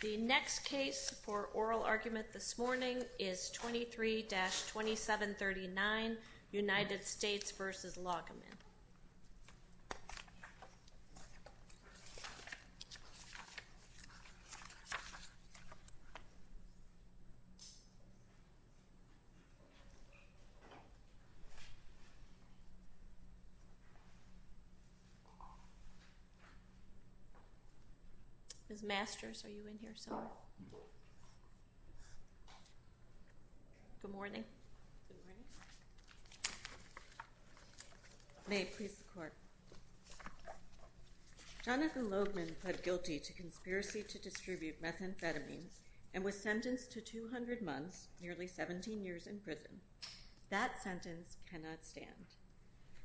The next case for oral argument this morning is 23-2739, United States v. Logeman. Ms. Masters, are you in here somewhere? Good morning. May it please the Court. Jonathan Logeman pled guilty to conspiracy to distribute methamphetamines and was sentenced to 200 months, nearly 17 years in prison. That sentence cannot stand.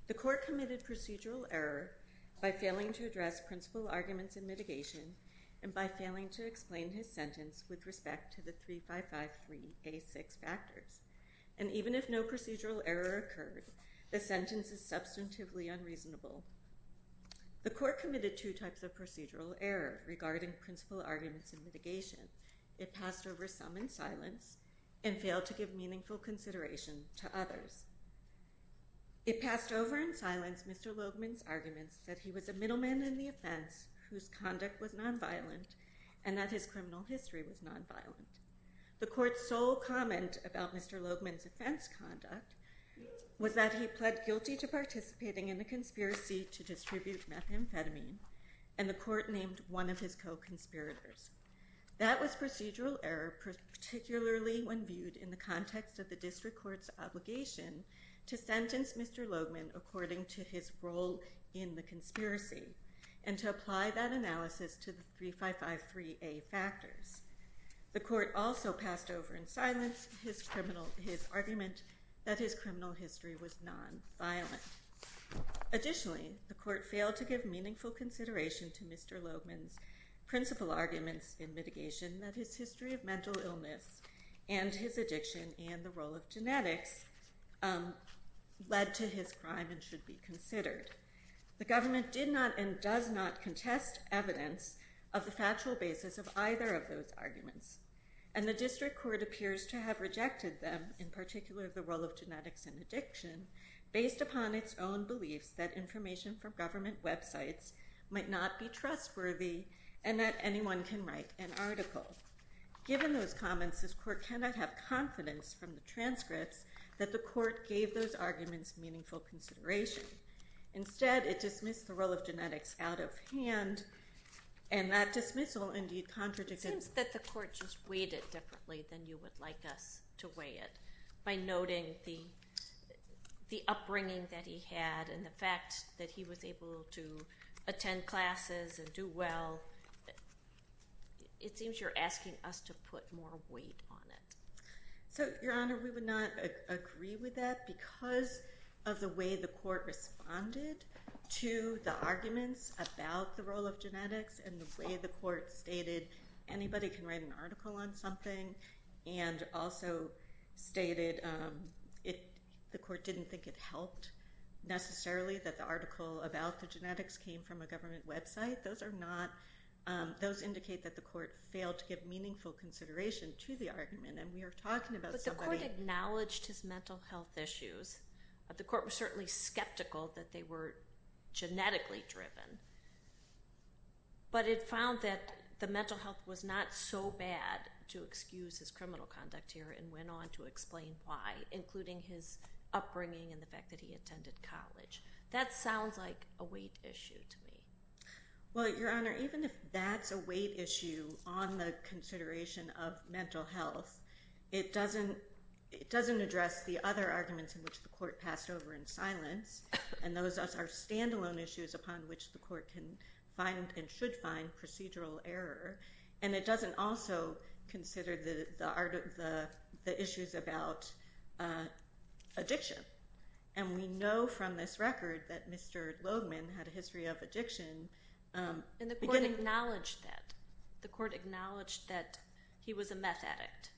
The Court committed procedural error by failing to address principal arguments in mitigation and by failing to explain his sentence with respect to the 3553A6 factors. And even if no procedural error occurred, the sentence is substantively unreasonable. The Court committed two types of procedural error regarding principal arguments in mitigation. It passed over some in silence and failed to give meaningful consideration to others. It passed over in silence Mr. Logeman's arguments that he was a middleman in the offense whose conduct was nonviolent and that his criminal history was nonviolent. The Court's sole comment about Mr. Logeman's offense conduct was that he pled guilty to participating in a conspiracy to distribute methamphetamine and the Court named one of his co-conspirators. That was procedural error, particularly when viewed in the context of the district court's obligation to sentence Mr. Logeman according to his role in the conspiracy and to apply that analysis to the 3553A factors. The Court also passed over in silence his argument that his criminal history was nonviolent. Additionally, the Court failed to give meaningful consideration to Mr. Logeman's principal arguments in mitigation that his history of mental illness and his addiction and the role of genetics led to his crime and should be considered. The government did not and does not contest evidence of the factual basis of either of those arguments and the district court appears to have rejected them, in particular the role of genetics and addiction, based upon its own beliefs that information from government websites might not be trustworthy and that anyone can write an article. Given those comments, this Court cannot have confidence from the transcripts that the Court gave those arguments meaningful consideration. Instead, it dismissed the role of genetics out of hand and that dismissal indeed contradicted… It seems that the Court just weighed it differently than you would like us to weigh it by noting the upbringing that he had and the fact that he was able to attend classes and do well. It seems you're asking us to put more weight on it. So, Your Honor, we would not agree with that because of the way the Court responded to the arguments about the role of genetics and the way the Court stated anybody can write an article on something and also stated the Court didn't think it helped necessarily that the article about the genetics came from a government website. Those indicate that the Court failed to give meaningful consideration to the argument and we are talking about somebody… But the Court acknowledged his mental health issues. The Court was certainly skeptical that they were genetically driven. But it found that the mental health was not so bad to excuse his criminal conduct here and went on to explain why, including his upbringing and the fact that he attended college. That sounds like a weight issue to me. Well, Your Honor, even if that's a weight issue on the consideration of mental health, it doesn't address the other arguments in which the Court passed over in silence and those are standalone issues upon which the Court can find and should find procedural error. And it doesn't also consider the issues about addiction. And we know from this record that Mr. Loegman had a history of addiction. And the Court acknowledged that. The Court acknowledged that he was a meth addict.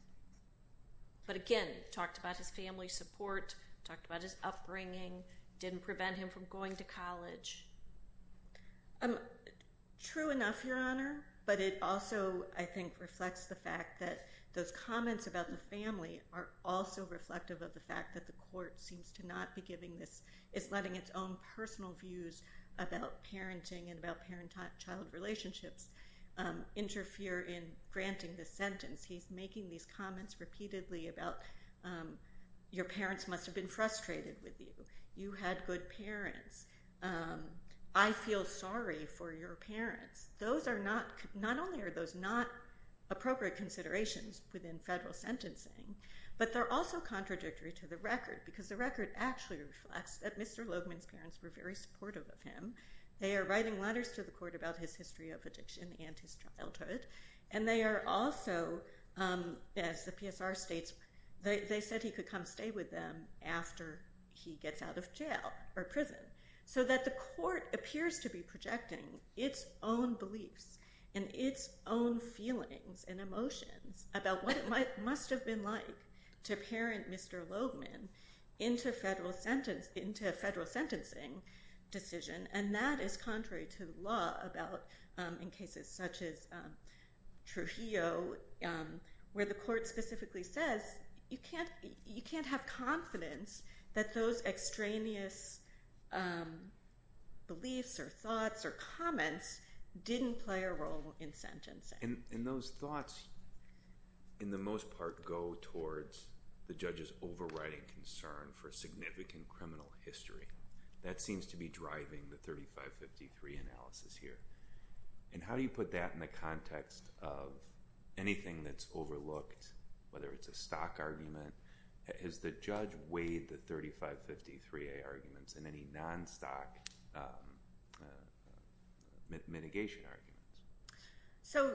But again, talked about his family support, talked about his upbringing, didn't prevent him from going to college. True enough, Your Honor, but it also, I think, reflects the fact that those comments about the family are also reflective of the fact that the Court seems to not be giving this… is letting its own personal views about parenting and about parent-child relationships interfere in granting this sentence. He's making these comments repeatedly about your parents must have been frustrated with you. You had good parents. I feel sorry for your parents. Those are not, not only are those not appropriate considerations within federal sentencing, but they're also contradictory to the record because the record actually reflects that Mr. Loegman's parents were very supportive of him. They are writing letters to the Court about his history of addiction and his childhood. And they are also, as the PSR states, they said he could come stay with them after he gets out of jail or prison. So that the Court appears to be projecting its own beliefs and its own feelings and emotions about what it must have been like to parent Mr. Loegman into a federal sentencing decision. And that is contrary to the law about in cases such as Trujillo where the Court specifically says you can't have confidence that those extraneous beliefs or thoughts or comments didn't play a role in sentencing. And those thoughts, in the most part, go towards the judge's overriding concern for significant criminal history. That seems to be driving the 3553 analysis here. And how do you put that in the context of anything that's overlooked, whether it's a stock argument? Has the judge weighed the 3553A arguments in any non-stock mitigation arguments? So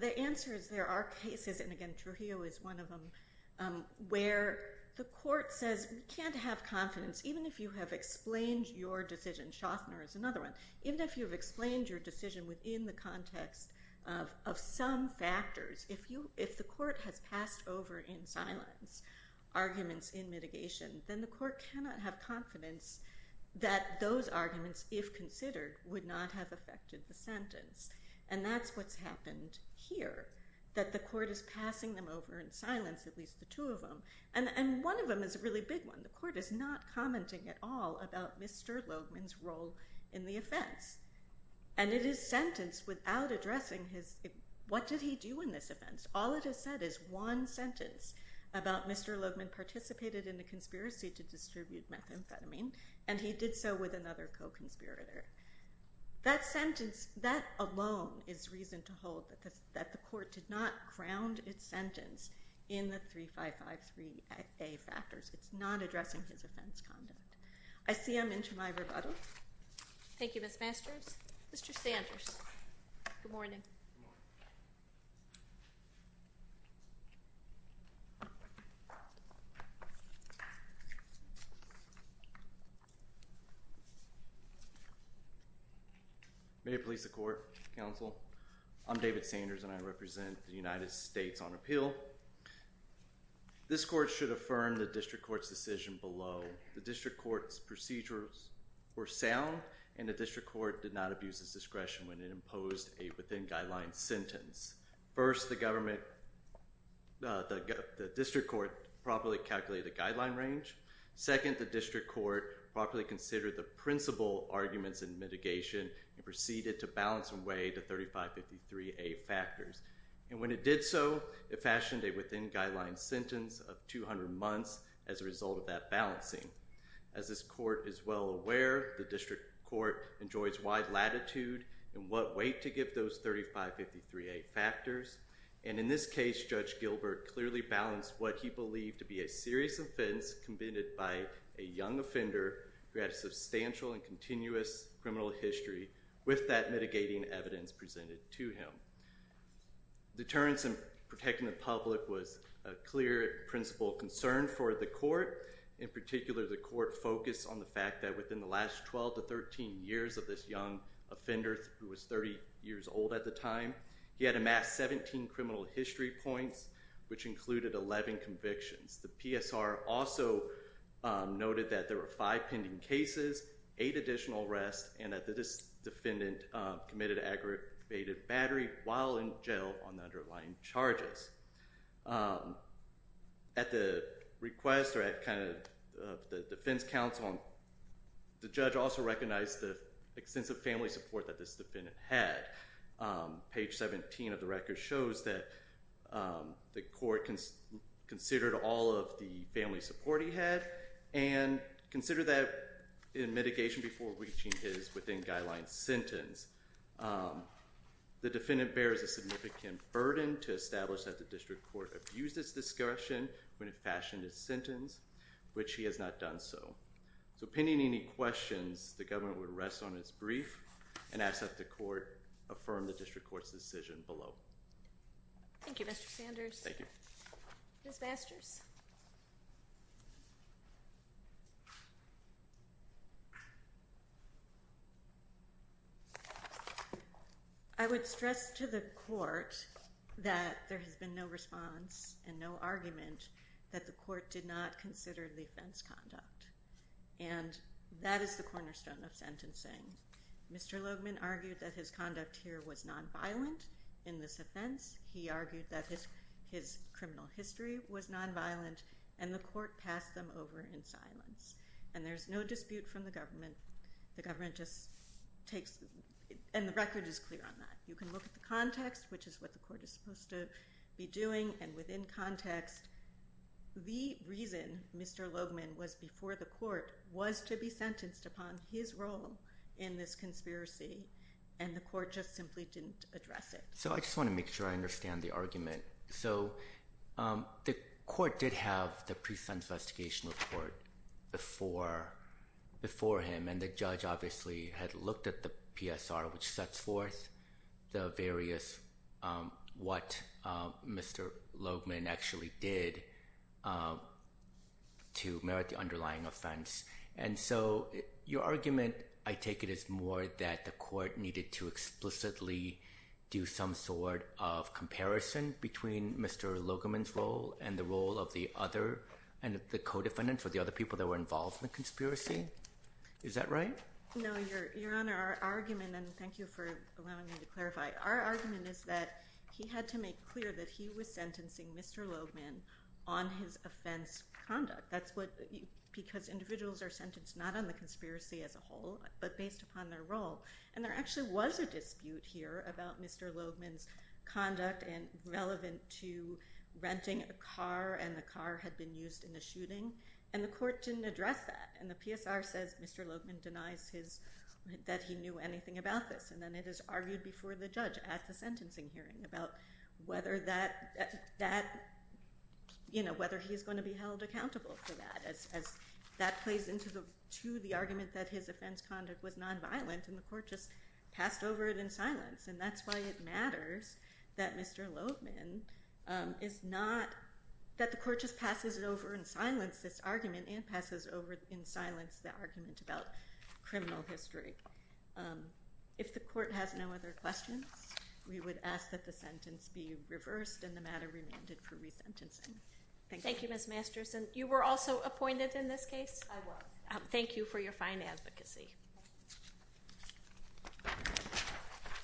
the answer is there are cases, and again, Trujillo is one of them, where the Court says we can't have confidence. Even if you have explained your decision, Shostner is another one, even if you have explained your decision within the context of some factors, if the Court has passed over in silence arguments in mitigation, then the Court cannot have confidence that those arguments, if considered, would not have affected the sentence. And that's what's happened here, that the Court is passing them over in silence, at least the two of them. And one of them is a really big one. The Court is not commenting at all about Mr. Logeman's role in the offense. And it is sentenced without addressing what did he do in this offense. All it has said is one sentence about Mr. Logeman participated in a conspiracy to distribute methamphetamine, and he did so with another co-conspirator. That sentence, that alone is reason to hold that the Court did not ground its sentence in the 3553A factors. It's not addressing his offense conduct. I see I'm into my rebuttal. Thank you, Ms. Masters. Mr. Sanders, good morning. May it please the Court, Counsel. I'm David Sanders, and I represent the United States on appeal. This Court should affirm the District Court's decision below. The District Court's procedures were sound, and the District Court did not abuse its discretion when it imposed a within-guidelines sentence. First, the District Court properly calculated the guideline range. Second, the District Court properly considered the principal arguments in mitigation and proceeded to balance and weigh the 3553A factors. And when it did so, it fashioned a within-guidelines sentence of 200 months as a result of that balancing. As this Court is well aware, the District Court enjoys wide latitude in what weight to give those 3553A factors. And in this case, Judge Gilbert clearly balanced what he believed to be a serious offense committed by a young offender who had a substantial and continuous criminal history with that mitigating evidence presented to him. Deterrence in protecting the public was a clear principal concern for the Court. In particular, the Court focused on the fact that within the last 12 to 13 years of this young offender who was 30 years old at the time, he had amassed 17 criminal history points, which included 11 convictions. The PSR also noted that there were five pending cases, eight additional arrests, and that this defendant committed aggravated battery while in jail on the underlying charges. At the request or at kind of the defense counsel, the judge also recognized the extensive family support that this defendant had. Page 17 of the record shows that the Court considered all of the family support he had and considered that in mitigation before reaching his within-guidelines sentence. The defendant bears a significant burden to establish that the District Court abused its discretion when it fashioned its sentence, which he has not done so. So pending any questions, the government would rest on its brief and ask that the Court affirm the District Court's decision below. Thank you, Mr. Sanders. Thank you. Ms. Masters? I would stress to the Court that there has been no response and no argument that the Court did not consider the offense conduct, and that is the cornerstone of sentencing. Mr. Logeman argued that his conduct here was nonviolent in this offense. He argued that his criminal history was nonviolent. And the Court passed them over in silence. And there's no dispute from the government. The government just takes, and the record is clear on that. You can look at the context, which is what the Court is supposed to be doing. And within context, the reason Mr. Logeman was before the Court was to be sentenced upon his role in this conspiracy, and the Court just simply didn't address it. So I just want to make sure I understand the argument. So the Court did have the pre-sentence investigation report before him, and the judge obviously had looked at the PSR, which sets forth the various what Mr. Logeman actually did to merit the underlying offense. And so your argument, I take it, is more that the Court needed to explicitly do some sort of comparison between Mr. Logeman's role and the role of the other and the co-defendant for the other people that were involved in the conspiracy. Is that right? No, Your Honor. Our argument, and thank you for allowing me to clarify, our argument is that he had to make clear that he was sentencing Mr. Logeman on his offense conduct. That's because individuals are sentenced not on the conspiracy as a whole, but based upon their role. And there actually was a dispute here about Mr. Logeman's conduct and relevant to renting a car, and the car had been used in the shooting, and the Court didn't address that. And the PSR says Mr. Logeman denies that he knew anything about this, and then it is argued before the judge at the sentencing hearing about whether he's going to be held accountable for that, as that plays into the argument that his offense conduct was nonviolent, and the Court just passed over it in silence. And that's why it matters that Mr. Logeman is not – that the Court just passes it over in silence, this argument, and passes over in silence the argument about criminal history. If the Court has no other questions, we would ask that the sentence be reversed and the matter remanded for resentencing. Thank you. Thank you, Ms. Masterson. You were also appointed in this case? I was. Thank you for your fine advocacy.